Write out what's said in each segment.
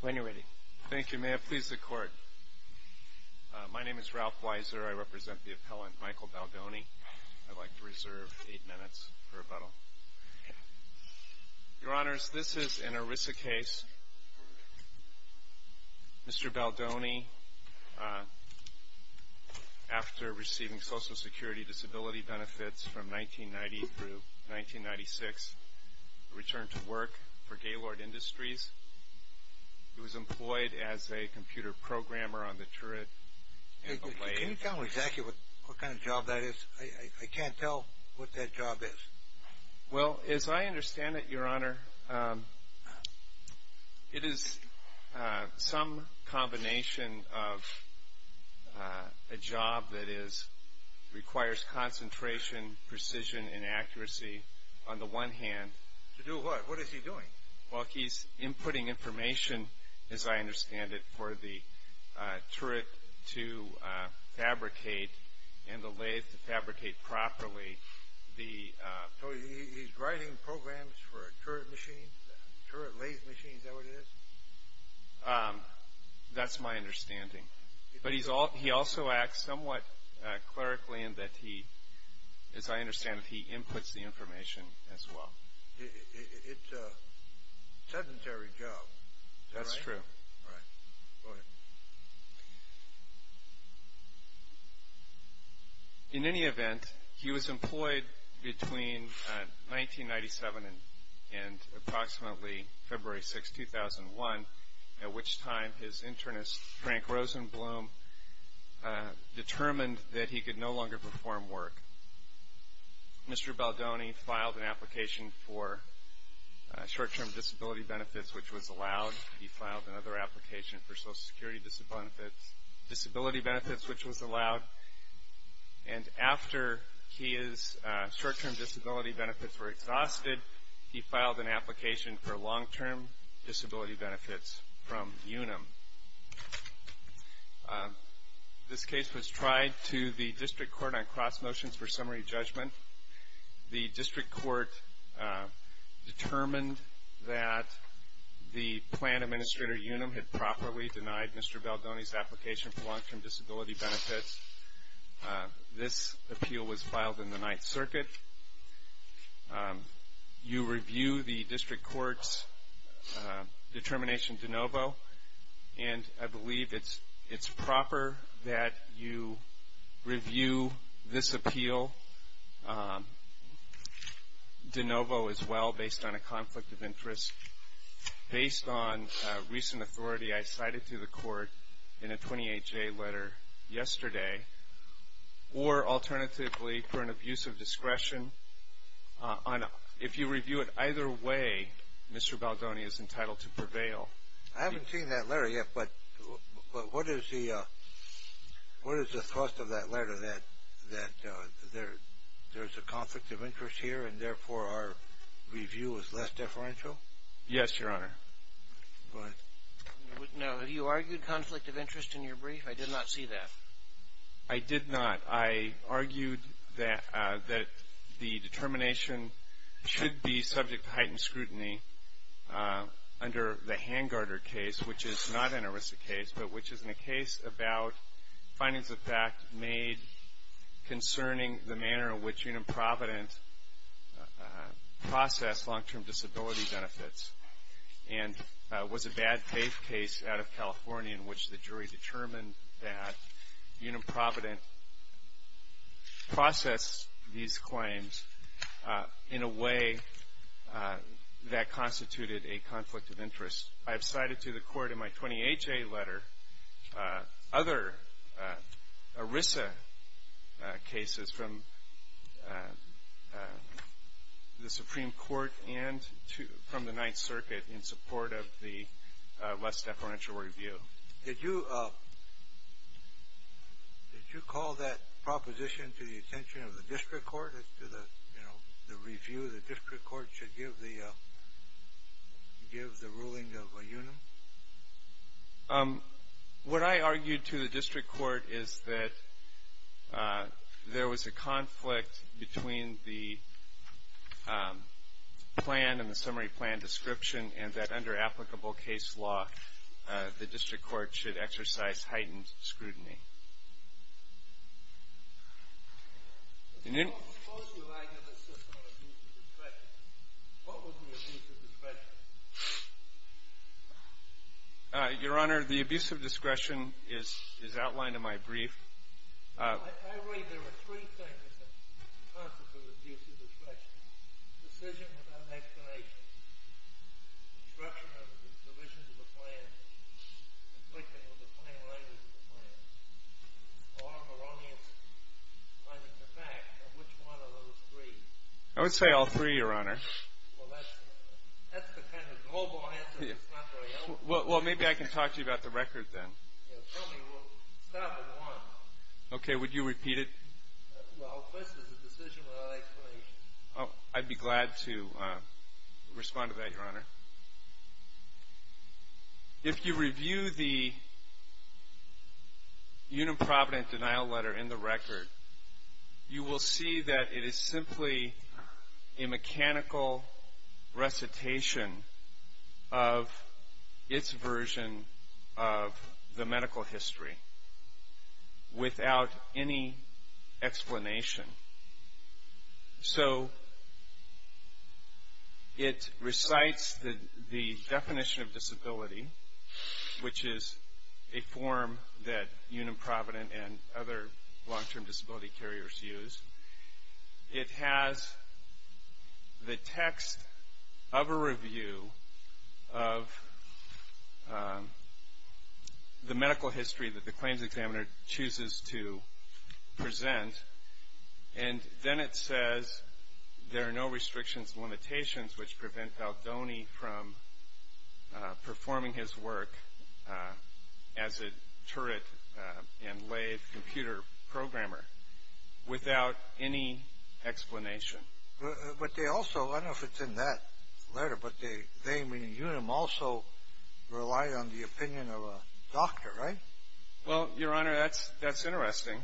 When you're ready. Thank you. May it please the Court. My name is Ralph Weiser. I represent the appellant, Michael Baldoni. I'd like to reserve eight minutes for rebuttal. Your Honors, this is an ERISA case. Mr. Baldoni, after receiving Social Security disability benefits from 1990 through 1996, returned to work for Gaylord Industries. He was employed as a computer programmer on the turret. Can you tell me exactly what kind of job that is? I can't tell what that job is. Well, as I understand it, Your Honor, it is some combination of a job that requires concentration, precision, and accuracy on the one hand. To do what? What is he doing? Well, he's inputting information, as I understand it, for the turret to fabricate and the lathe to fabricate properly. So he's writing programs for turret machines, turret But he also acts somewhat clerically in that he, as I understand it, he inputs the information as well. It's a sedentary job. That's true. Right. Go ahead. In any event, he was employed between 1997 and approximately February 6, 2001, at which time his internist, Frank Rosenblum, determined that he could no longer perform work. Mr. Baldoni filed an application for short-term disability benefits, which was allowed. He filed another application for Social Security disability benefits, which was allowed. And after his short-term disability benefits were exhausted, he filed an application for long-term disability benefits from UNAM. This case was tried to the District Court on cross-motions for summary judgment. The District Court determined that the plan administrator, UNAM, had properly denied Mr. Baldoni's application for long-term disability benefits. This appeal was filed in the Ninth Circuit. You review the District Court's determination de novo, and I believe it's proper that you review this appeal de novo as well, based on a conflict of interest, based on recent authority I cited to the Court in a 28-J letter yesterday, or alternatively, for an abuse of discretion. If you review it either way, Mr. Baldoni is entitled to prevail. I haven't seen that letter yet, but what is the thought of that review as less deferential? Yes, Your Honor. Go ahead. No, have you argued conflict of interest in your brief? I did not see that. I did not. I argued that the determination should be subject to heightened scrutiny under the Hangarder case, which is not an aristic case, but which is a case about findings of fact made concerning the manner in which UNAM Provident processed long-term disability benefits, and was a bad faith case out of California in which the jury determined that UNAM Provident processed these claims in a way that constituted a conflict of interest. I have other ERISA cases from the Supreme Court and from the Ninth Circuit in support of the less deferential review. Did you call that proposition to the attention of the district court as to the district court is that there was a conflict between the plan and the summary plan description, and that under applicable case law, the district court should exercise heightened scrutiny. Your Honor, the abuse of discretion is outlined in my brief. I would say all three, Your Honor. Well, maybe I can talk to you about the record then. Okay, would you repeat it? I'd be glad to respond to that, Your Honor. If you review the UNAM Provident denial letter in the record, you will see that it is simply a mechanical recitation of its version of the medical history without any explanation. So, it recites the definition of disability, which is a form that UNAM Provident and other long-term disability carriers use. It has the text of a medical history that the claims examiner chooses to present, and then it says there are no restrictions and limitations which prevent Baldoni from performing his work as a turret and lathe computer programmer without any explanation. But they also, I don't know if it's in that letter, but they, meaning UNAM, also rely on the opinion of a doctor, right? Well, Your Honor, that's interesting.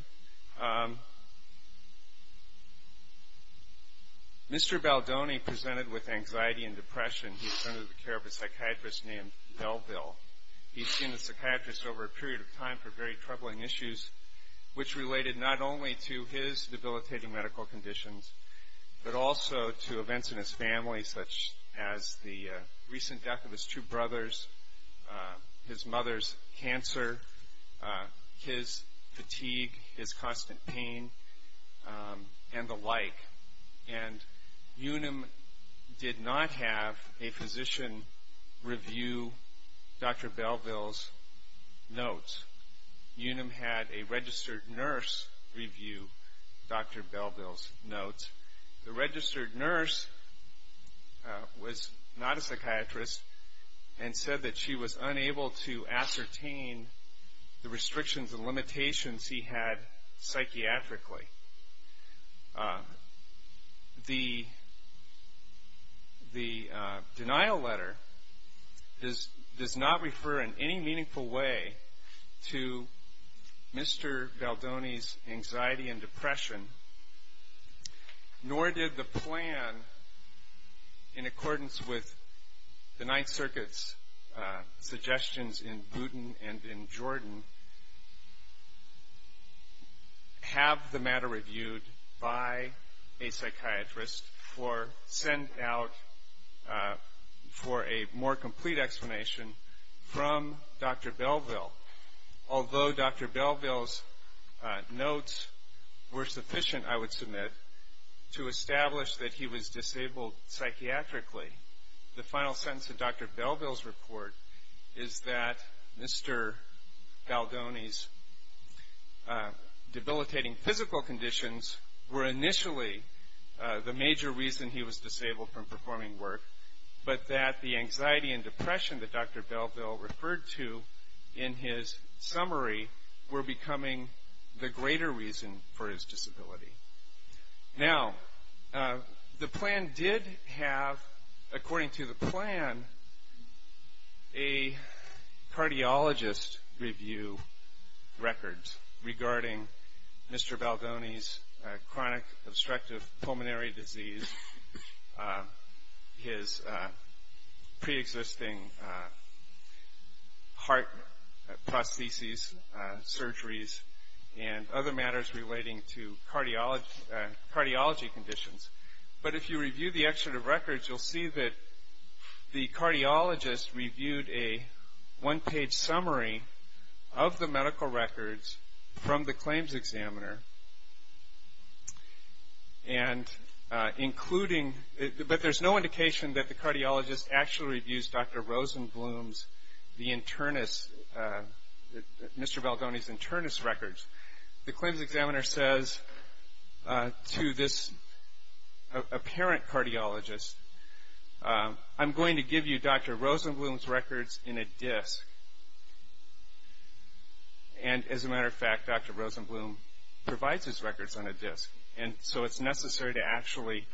Mr. Baldoni presented with anxiety and depression. He's under the care of a psychiatrist named Delville. He's seen a psychiatrist over a period of time for very troubling issues, which related not only to his debilitating medical conditions, but also to events in his family, such as the recent death of his two brothers, his mother's cancer, his fatigue, his constant pain, and the like. And UNAM did not have a physician review Dr. Delville's notes. UNAM had a registered nurse review Dr. Delville's notes. The registered nurse was not a psychiatrist and said that she was unable to ascertain the restrictions and limitations he had psychiatrically. The denial letter does not refer in any meaningful way to Mr. Baldoni's anxiety and depression, nor did the plan in accordance with the Ninth Circuit's suggestions in Booton and in Jordan have the matter reviewed by a psychiatrist for sent out for a more complete explanation from Dr. Delville. Although Dr. Delville's notes were sufficient, I would submit, to establish that he was disabled psychiatrically, the final sentence of Dr. reason he was disabled from performing work, but that the anxiety and depression that Dr. Delville referred to in his summary were becoming the greater reason for his disability. Now, the plan did have, according to the plan, a cardiologist review records regarding Mr. Baldoni's chronic obstructive pulmonary disease, his pre-existing heart prostheses, surgeries, and other matters relating to cardiology conditions, but if you review the excerpt of records, you'll see that the cardiologist reviewed a one-page summary of the medical records from the claims examiner, but there's no indication that the cardiologist actually reviews Dr. Rosenbloom's, Mr. Baldoni's internist records. The claims examiner says to this apparent cardiologist, I'm going to give you Dr. Rosenbloom's records in a disc, and as a matter of fact, Dr. Rosenbloom provides his records on a disc, and so it's necessary to actually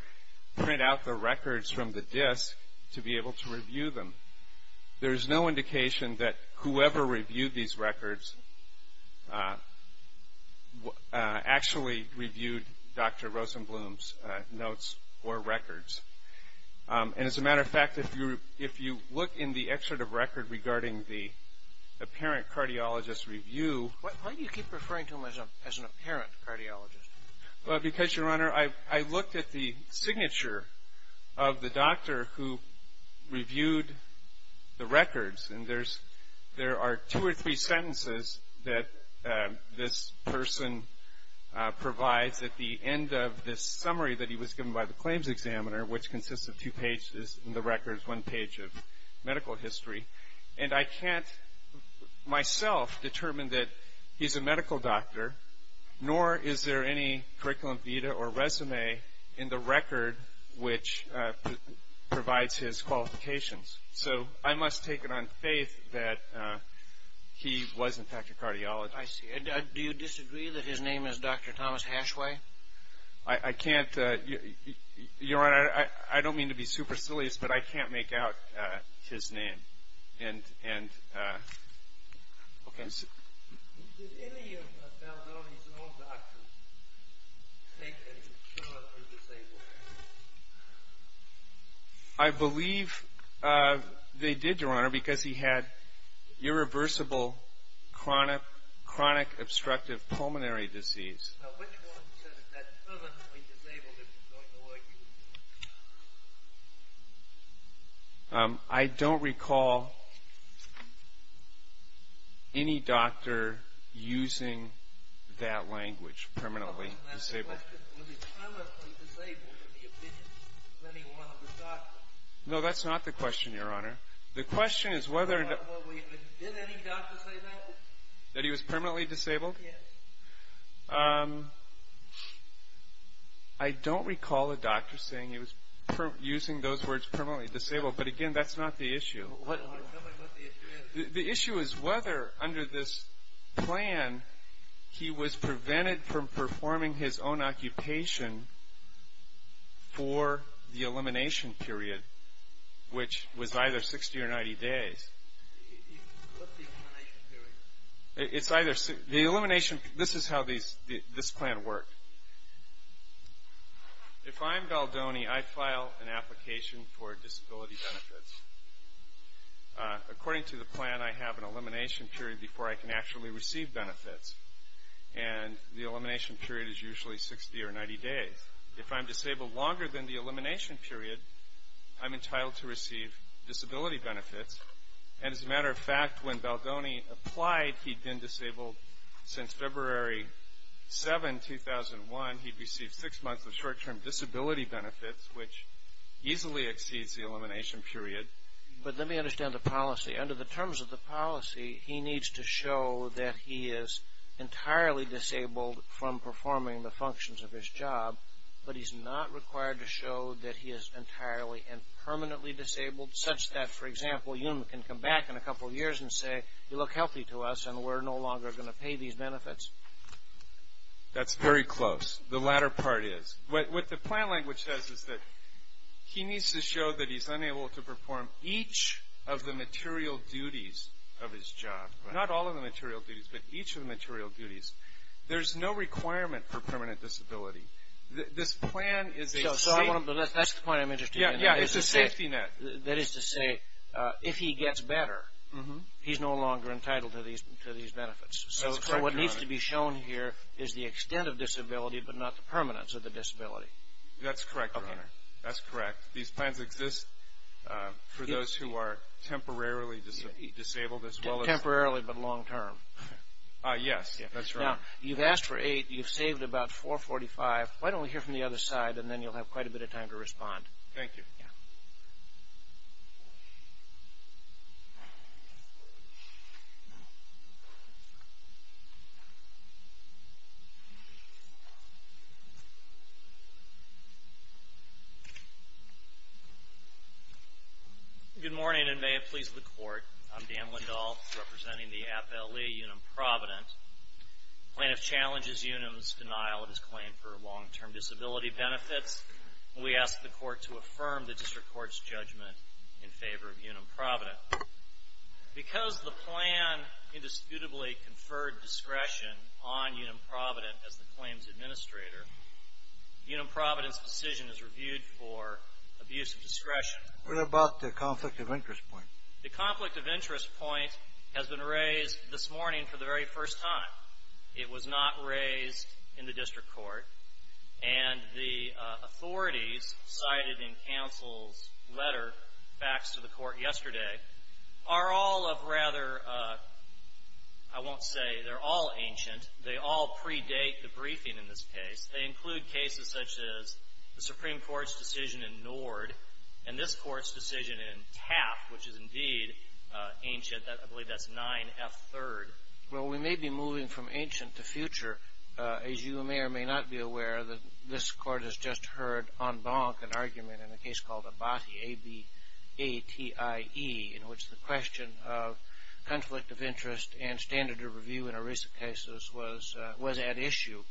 print out the records from the disc to be able to review them. There's no indication that whoever reviewed these records actually reviewed Dr. Rosenbloom's notes or records, and as a matter of fact, if you look in the excerpt of record regarding the apparent cardiologist review... Why do you keep referring to him as an apparent cardiologist? Because, Your Honor, I looked at the signature of the doctor who reviewed the records, and there are two or three slides at the end of this summary that he was given by the claims examiner, which consists of two pages in the records, one page of medical history, and I can't, myself, determine that he's a medical doctor, nor is there any curriculum vitae or resume in the record which provides his qualifications. So, I must take it on faith that he was, in fact, a cardiologist. I see. Do you disagree that his name is Dr. Thomas Hashway? I can't, Your Honor, I don't mean to be supercilious, but I can't make out his name, and, okay. Did any of Baldoni's own doctors take a cure for disabled people? I believe they did, Your Honor, because he had irreversible chronic obstructive pulmonary disease. Now, which one says that permanently disabled is a joint ORU? I don't recall any doctor using that language, permanently disabled. Was he permanently disabled in the opinion of any one of his doctors? No, that's not the question, Your Honor. The question is whether... Did any doctor say that? That he was permanently disabled? Yes. I don't recall a doctor saying he was, using those words, permanently disabled, but, again, that's not the issue. Tell me what the issue is. The issue is whether, under this plan, he was prevented from performing his own occupation for the elimination period, which was either 60 or 90 days. What's the elimination period? The elimination, this is how this plan worked. If I'm Baldoni, I file an application for disability benefits. According to the plan, I have an elimination period before I can actually receive benefits. And the elimination period is usually 60 or 90 days. If I'm disabled longer than the elimination period, I'm entitled to receive disability benefits. And, as a matter of fact, when Baldoni applied, he'd been disabled since February 7, 2001. He'd received six months of short-term disability benefits, which easily exceeds the elimination period. But let me understand the policy. Under the terms of the policy, he needs to show that he is entirely disabled from performing the functions of his job, but he's not required to show that he is entirely and permanently disabled, such that, for example, you can come back in a couple of years and say, you look healthy to us and we're no longer going to pay these benefits. That's very close. The latter part is. What the plan language says is that he needs to show that he's unable to perform each of the material duties of his job. Not all of the material duties, but each of the material duties. There's no requirement for permanent disability. This plan is a safety net. That's the point I'm interested in. Yeah, it's a safety net. That is to say, if he gets better, he's no longer entitled to these benefits. So what needs to be shown here is the extent of disability, but not the permanence of the disability. That's correct, Your Honor. That's correct. These plans exist for those who are temporarily disabled as well as... Temporarily, but long-term. Yes, that's right. Now, you've asked for eight. You've saved about $445. Why don't we hear from the other side, and then you'll have quite a bit of time to respond. Thank you. Yeah. Good morning, and may it please the Court. I'm Dan Lindahl, representing the Appellee Unum Provident. Plaintiff challenges Unum's denial of his claim for long-term disability benefits. We ask the Court to affirm the district court's judgment in favor of Unum Provident. Because the plan indisputably conferred discretion on Unum Provident as the claim's administrator, Unum Provident's decision is reviewed for abuse of discretion. What about the conflict of interest point? The conflict of interest point has been raised this morning for the very first time. It was not raised in the district court. And the authorities cited in counsel's letter faxed to the court yesterday are all of rather — I won't say they're all ancient. They all predate the briefing in this case. They include cases such as the Supreme Court's decision in Nord and this Court's decision in Taft, which is indeed ancient. I believe that's 9F3rd. Well, we may be moving from ancient to future. As you may or may not be aware, this Court has just heard en banc an argument in a case called Abati, A-B-A-T-I-E, in which the question of conflict of interest and standard of review in a recent case was at issue.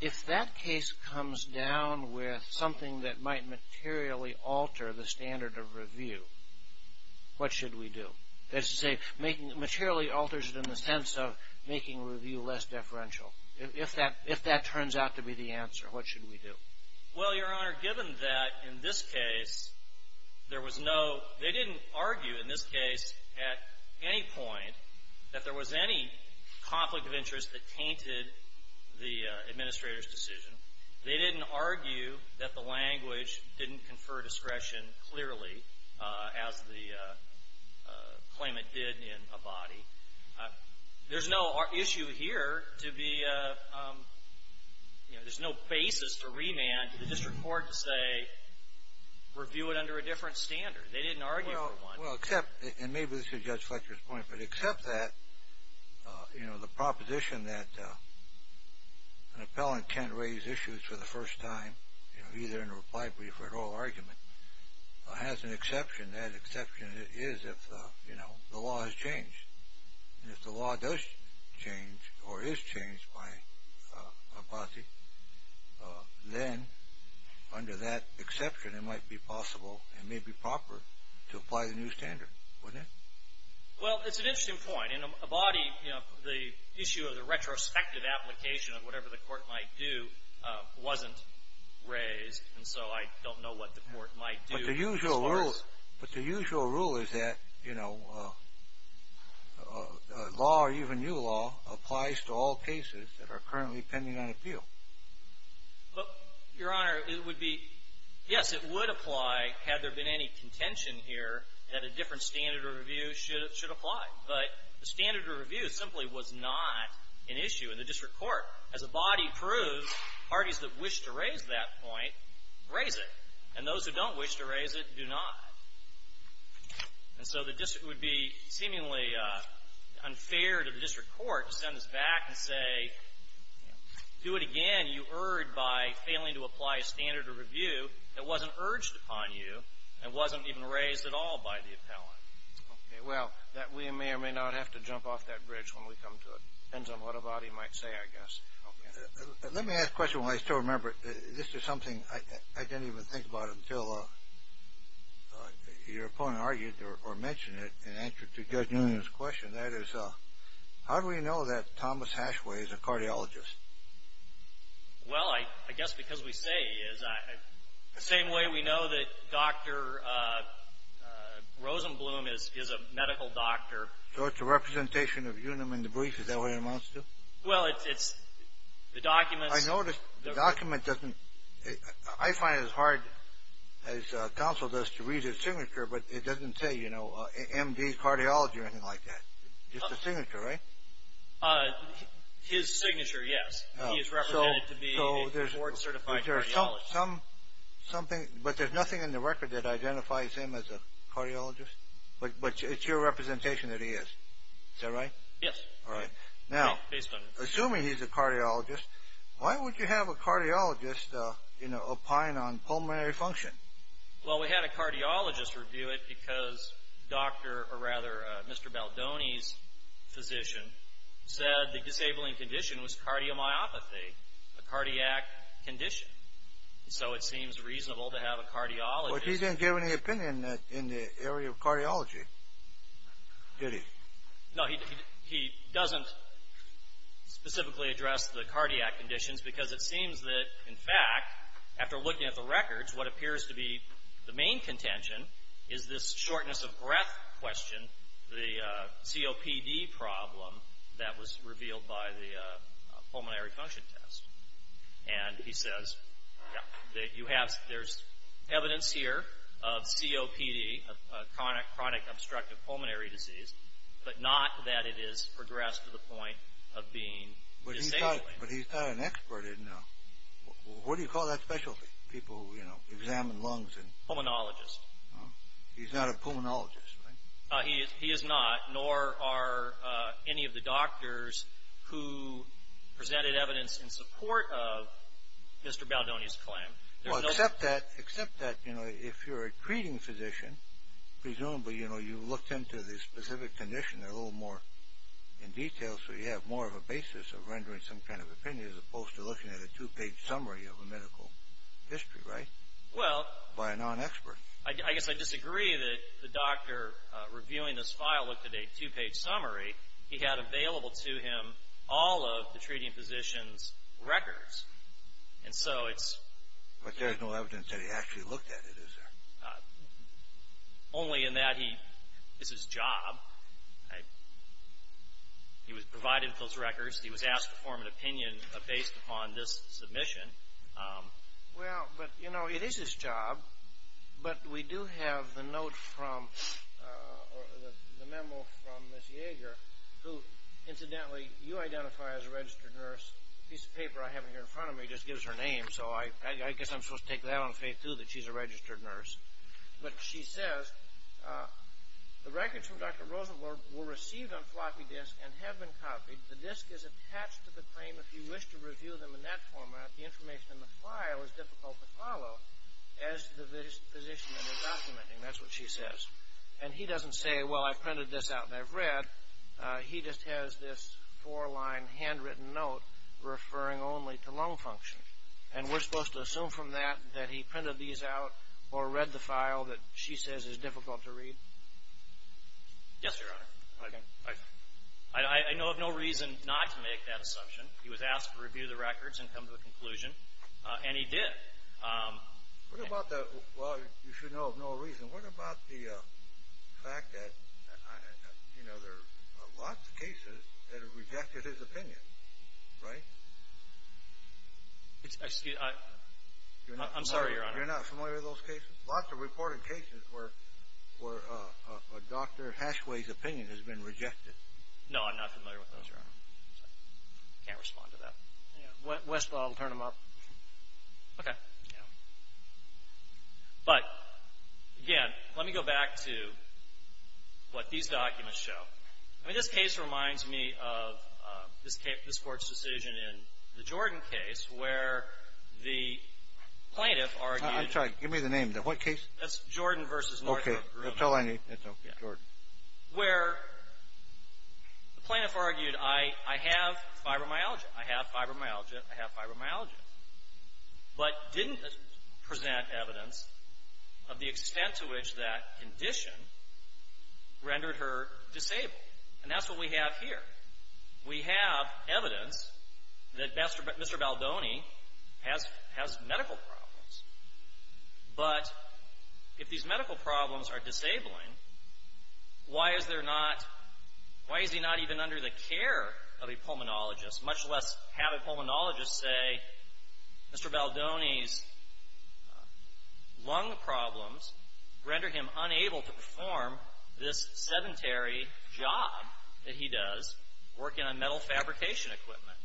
If that case comes down with something that might materially alter the standard of review, what should we do? That is to say, materially alters it in the sense of making review less deferential. If that turns out to be the answer, what should we do? Well, Your Honor, given that in this case there was no — they didn't argue in this case at any point that there was any conflict of interest that tainted the administrator's decision. They didn't argue that the language didn't confer discretion clearly, as the claimant did in Abati. There's no issue here to be — you know, there's no basis for remand to the district court to say, review it under a different standard. They didn't argue for one. Well, except — and maybe this is Judge Fletcher's point, but except that, you know, the proposition that an appellant can't raise issues for the first time, you know, either in a reply brief or an oral argument, has an exception. That exception is if, you know, the law has changed. And if the law does change or is changed by Abati, then under that exception it might be possible and may be proper to apply the new standard, wouldn't it? Well, it's an interesting point. In Abati, you know, the issue of the retrospective application of whatever the court might do wasn't raised. And so I don't know what the court might do as far as — But the usual rule is that, you know, law or even new law applies to all cases that are currently pending on appeal. Well, Your Honor, it would be — yes, it would apply had there been any contention here that a different standard of review should apply. But the standard of review simply was not an issue in the district court. As Abati proved, parties that wish to raise that point raise it. And those who don't wish to raise it do not. And so the district — it would be seemingly unfair to the district court to send this back and say, do it again, you erred by failing to apply a standard of review that wasn't urged upon you and wasn't even raised at all by the appellant. Okay. Well, that — we may or may not have to jump off that bridge when we come to it. Depends on what Abati might say, I guess. Okay. Let me ask a question while I still remember it. This is something I didn't even think about until your opponent argued or mentioned it in answer to Judge Noonan's question. That is, how do we know that Thomas Hashway is a cardiologist? Well, I guess because we say he is. The same way we know that Dr. Rosenblum is a medical doctor. So it's a representation of unum in the brief? Is that what it amounts to? Well, it's — the documents — I noticed the document doesn't — I find it as hard as counsel does to read his signature, but it doesn't say, you know, M.D., cardiology or anything like that. Just a signature, right? His signature, yes. He is represented to be a board-certified cardiologist. But there's something — but there's nothing in the record that identifies him as a cardiologist? But it's your representation that he is. Is that right? Yes. All right. Now, assuming he's a cardiologist, why would you have a cardiologist, you know, opine on pulmonary function? Well, we had a cardiologist review it because Dr. — or rather, Mr. Baldoni's physician said the disabling condition was cardiomyopathy, a cardiac condition. So it seems reasonable to have a cardiologist — But he didn't give any opinion in the area of cardiology, did he? No, he doesn't specifically address the cardiac conditions because it seems that, in fact, after looking at the records, what appears to be the main contention is this shortness of breath question, the COPD problem that was revealed by the pulmonary function test. And he says that you have — there's evidence here of COPD, chronic obstructive pulmonary disease, but not that it has progressed to the point of being disabling. But he's not an expert, isn't he? What do you call that specialty? People, you know, examine lungs and — Pulmonologist. He's not a pulmonologist, right? He is not, nor are any of the doctors who presented evidence in support of Mr. Baldoni's claim. Well, except that, you know, if you're a treating physician, presumably, you know, you looked into the specific condition a little more in detail, so you have more of a basis of rendering some kind of opinion, as opposed to looking at a two-page summary of a medical history, right? Well — By a non-expert. I guess I disagree that the doctor reviewing this file looked at a two-page summary. He had available to him all of the treating physician's records. And so it's — But there is no evidence that he actually looked at it, is there? Only in that he — This is his job. He was provided those records. He was asked to form an opinion based upon this submission. Well, but, you know, it is his job. But we do have the note from — the memo from Ms. Yeager, who, incidentally, you identify as a registered nurse. The piece of paper I have here in front of me just gives her name, so I guess I'm supposed to take that on faith, too, that she's a registered nurse. But she says, the records from Dr. Rosenblum were received on floppy disks and have been copied. The disk is attached to the claim. If you wish to review them in that format, the information in the file is difficult to follow, as the physician is documenting. That's what she says. And he doesn't say, well, I printed this out and I've read. He just has this four-line handwritten note referring only to lung function. And we're supposed to assume from that that he printed these out or read the file that she says is difficult to read? Yes, Your Honor. I know of no reason not to make that assumption. He was asked to review the records and come to a conclusion, and he did. What about the — well, you should know of no reason. What about the fact that there are lots of cases that have rejected his opinion, right? I'm sorry, Your Honor. You're not familiar with those cases? Lots of reported cases where Dr. Hashway's opinion has been rejected. No, I'm not familiar with those, Your Honor. I can't respond to that. Westlaw will turn them up. Okay. But, again, let me go back to what these documents show. I mean, this case reminds me of this Court's decision in the Jordan case where the plaintiff argued — I'm sorry. Give me the name. The what case? That's Jordan v. Northrop Grumman. Okay. That's all I need. That's okay. Jordan. Where the plaintiff argued, I have fibromyalgia. I have fibromyalgia. I have fibromyalgia. But didn't present evidence of the extent to which that condition rendered her disabled. And that's what we have here. We have evidence that Mr. Baldoni has medical problems. But if these medical problems are disabling, why is he not even under the care of a pulmonologist, much less have a pulmonologist say, Mr. Baldoni's lung problems render him unable to perform this sedentary job that he does working on metal fabrication equipment?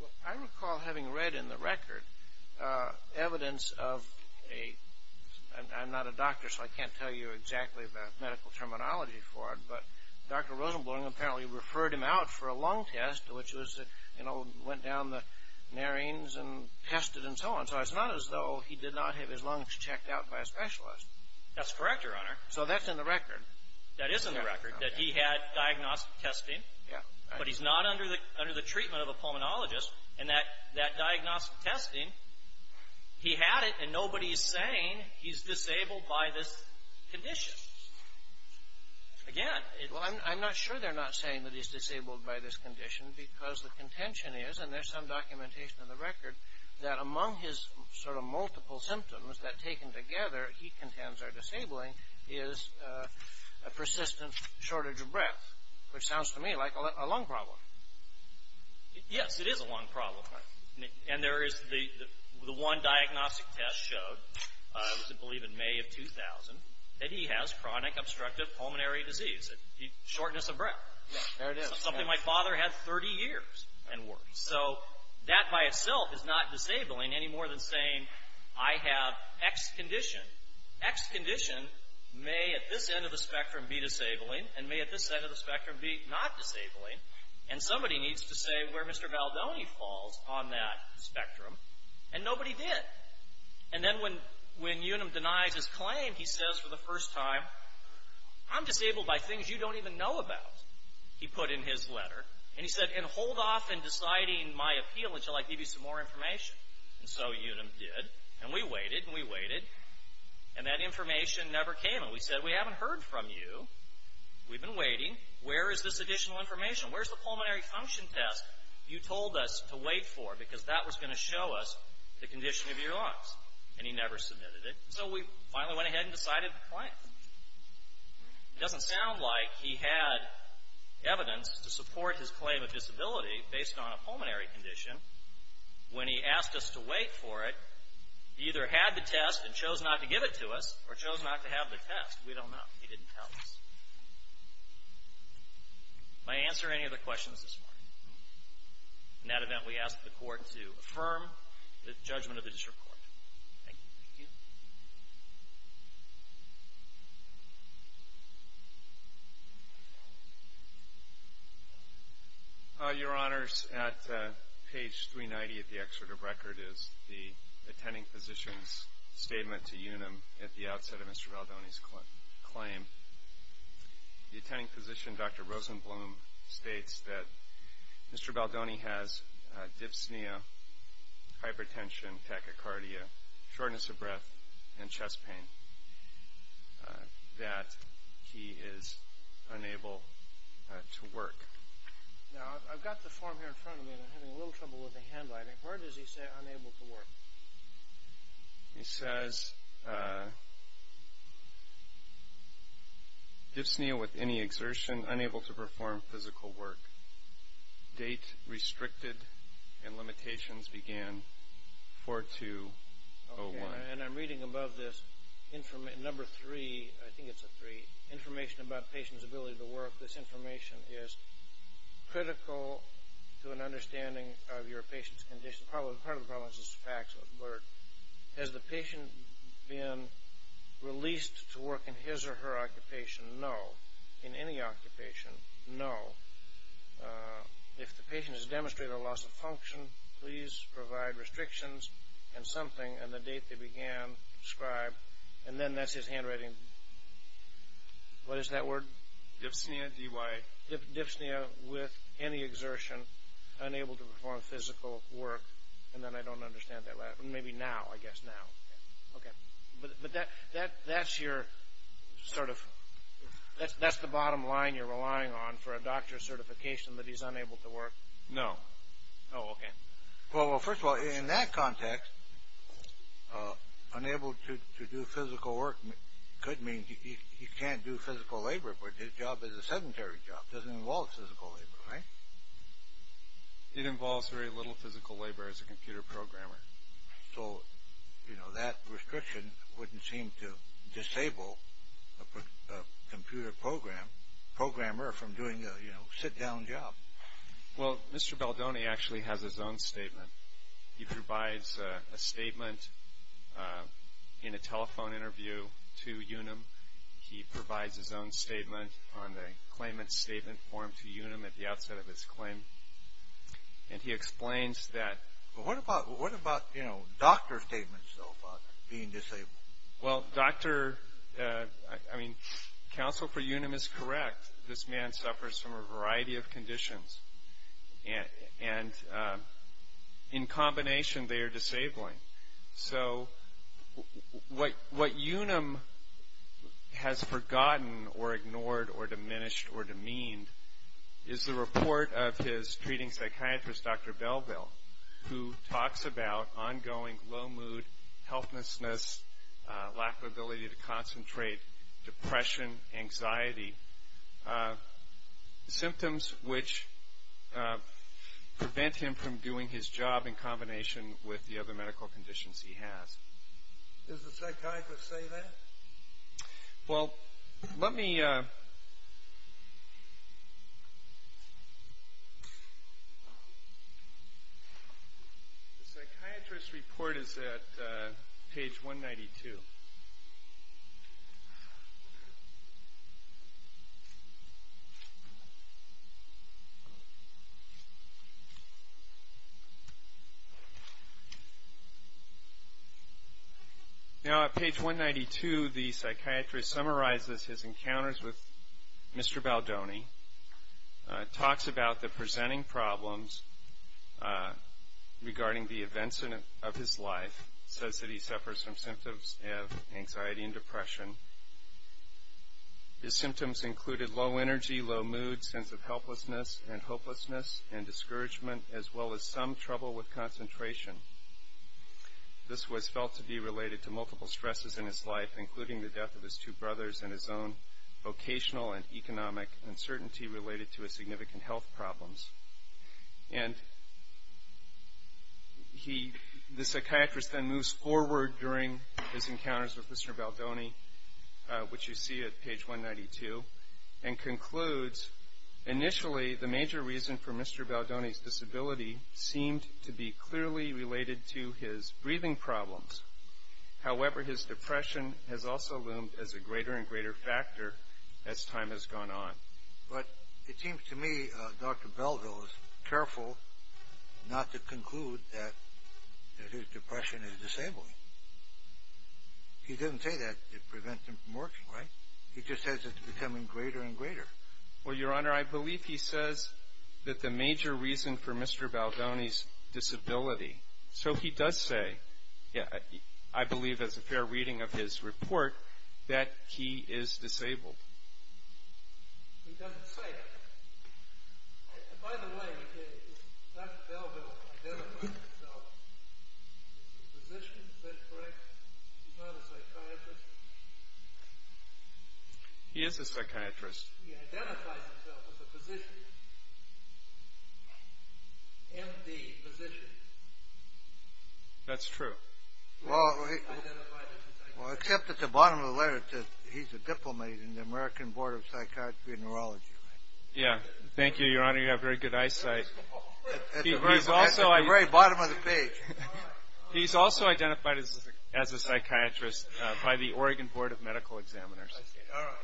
Well, I recall having read in the record evidence of a — I'm not a doctor, so I can't tell you exactly the medical terminology for it, but Dr. Rosenblum apparently referred him out for a lung test, which was, you know, went down the narines and tested and so on. So it's not as though he did not have his lungs checked out by a specialist. That's correct, Your Honor. So that's in the record. That is in the record, that he had diagnostic testing. Yeah. But he's not under the treatment of a pulmonologist. And that diagnostic testing, he had it, and nobody's saying he's disabled by this condition. Again, it — Well, I'm not sure they're not saying that he's disabled by this condition, because the contention is, and there's some documentation in the record, that among his sort of multiple symptoms that, taken together, he contends are disabling, is a persistent shortage of breath, which sounds to me like a lung problem. Yes, it is a lung problem. And there is the one diagnostic test showed, I believe in May of 2000, that he has chronic obstructive pulmonary disease, shortness of breath. There it is. Something my father had 30 years and worse. So that by itself is not disabling any more than saying I have X condition. X condition may at this end of the spectrum be disabling and may at this end of the spectrum be not disabling. And somebody needs to say where Mr. Valdoni falls on that spectrum. And nobody did. And then when Unum denies his claim, he says for the first time, I'm disabled by things you don't even know about, he put in his letter. And he said, and hold off in deciding my appeal until I give you some more information. And so Unum did. And we waited and we waited. And that information never came. And we said, we haven't heard from you. We've been waiting. Where is this additional information? Where is the pulmonary function test you told us to wait for? Because that was going to show us the condition of your lungs. And he never submitted it. So we finally went ahead and decided to claim it. It doesn't sound like he had evidence to support his claim of disability based on a pulmonary condition when he asked us to wait for it. He either had the test and chose not to give it to us or chose not to have the test. We don't know. He didn't tell us. May I answer any of the questions this morning? In that event, we ask the Court to affirm the judgment of the district court. Thank you. Thank you. Your Honors, at page 390 of the excerpt of record is the attending physician's statement to Unum at the outset of Mr. Baldoni's claim. The attending physician, Dr. Rosenblum, states that Mr. Baldoni has dyspnea, hypertension, tachycardia, shortness of breath, and chest pain, that he is unable to work. Now, I've got the form here in front of me, and I'm having a little trouble with the handwriting. Where does he say unable to work? He says dyspnea with any exertion, unable to perform physical work. Date restricted and limitations began 4-2-0-1. Okay, and I'm reading above this, number three, I think it's a three, information about patient's ability to work. This information is critical to an understanding of your patient's condition. Part of the problem is this fax alert. Has the patient been released to work in his or her occupation? No. In any occupation? No. If the patient has demonstrated a loss of function, please provide restrictions and something, and the date they began prescribed, and then that's his handwriting. What is that word? Dyspnea, D-Y. And then I don't understand that. Maybe now, I guess now. Okay. But that's your sort of – that's the bottom line you're relying on for a doctor's certification that he's unable to work? No. Oh, okay. Well, first of all, in that context, unable to do physical work could mean he can't do physical labor, but his job is a sedentary job. It doesn't involve physical labor, right? It involves very little physical labor as a computer programmer. So, you know, that restriction wouldn't seem to disable a computer programmer from doing a, you know, sit-down job. Well, Mr. Baldoni actually has his own statement. He provides a statement in a telephone interview to UNUM. He provides his own statement on the claimant's statement form to UNUM at the outset of his claim, and he explains that. What about, you know, doctor statements, though, about being disabled? Well, doctor – I mean, counsel for UNUM is correct. This man suffers from a variety of conditions, and in combination, they are disabling. So what UNUM has forgotten or ignored or diminished or demeaned is the report of his treating psychiatrist, Dr. Belville, who talks about ongoing low mood, healthlessness, lack of ability to concentrate, depression, anxiety, symptoms which prevent him from doing his job in combination with the other medical conditions he has. Does the psychiatrist say that? Well, let me – the psychiatrist's report is at page 192. Now, at page 192, the psychiatrist summarizes his encounters with Mr. Baldoni, talks about the presenting problems regarding the events of his life, says that he suffers from symptoms of anxiety and depression. His symptoms included low energy, low mood, sense of helplessness and hopelessness, and discouragement as well as some trouble with concentration. This was felt to be related to multiple stresses in his life, including the death of his two brothers and his own vocational and economic uncertainty related to his significant health problems. And he – the psychiatrist then moves forward during his encounters with Mr. Baldoni, which you see at page 192, and concludes, initially, the major reason for Mr. Baldoni's disability seemed to be clearly related to his breathing problems. However, his depression has also loomed as a greater and greater factor as time has gone on. But it seems to me Dr. Baldo is careful not to conclude that his depression is disabling. He didn't say that it prevents him from working, right? He just says it's becoming greater and greater. Well, Your Honor, I believe he says that the major reason for Mr. Baldoni's disability – So he does say, I believe as a fair reading of his report, that he is disabled. He doesn't say it. By the way, does Dr. Baldo identify himself as a physician? Is that correct? He's not a psychiatrist? He is a psychiatrist. He identifies himself as a physician, MD, physician. That's true. Well, except at the bottom of the letter it says he's a diplomat in the American Board of Psychiatry and Neurology. Yeah. Thank you, Your Honor. You have very good eyesight. At the very bottom of the page. He's also identified as a psychiatrist by the Oregon Board of Medical Examiners. All right.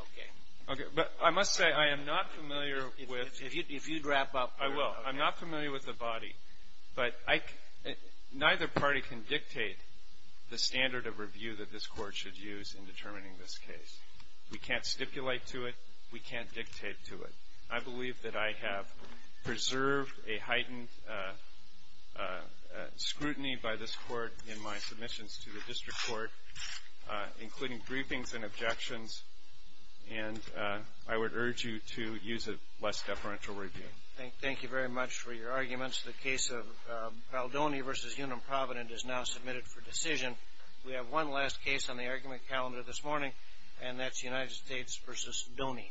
Okay. Okay. But I must say I am not familiar with – If you'd wrap up. I will. I'm not familiar with the body. But neither party can dictate the standard of review that this Court should use in determining this case. We can't stipulate to it. We can't dictate to it. I believe that I have preserved a heightened scrutiny by this Court in my submissions to the district court, including briefings and objections, and I would urge you to use a less deferential review. Thank you very much for your arguments. The case of Baldoni v. Unum Provident is now submitted for decision. We have one last case on the argument calendar this morning, and that's United States v. Baldoni.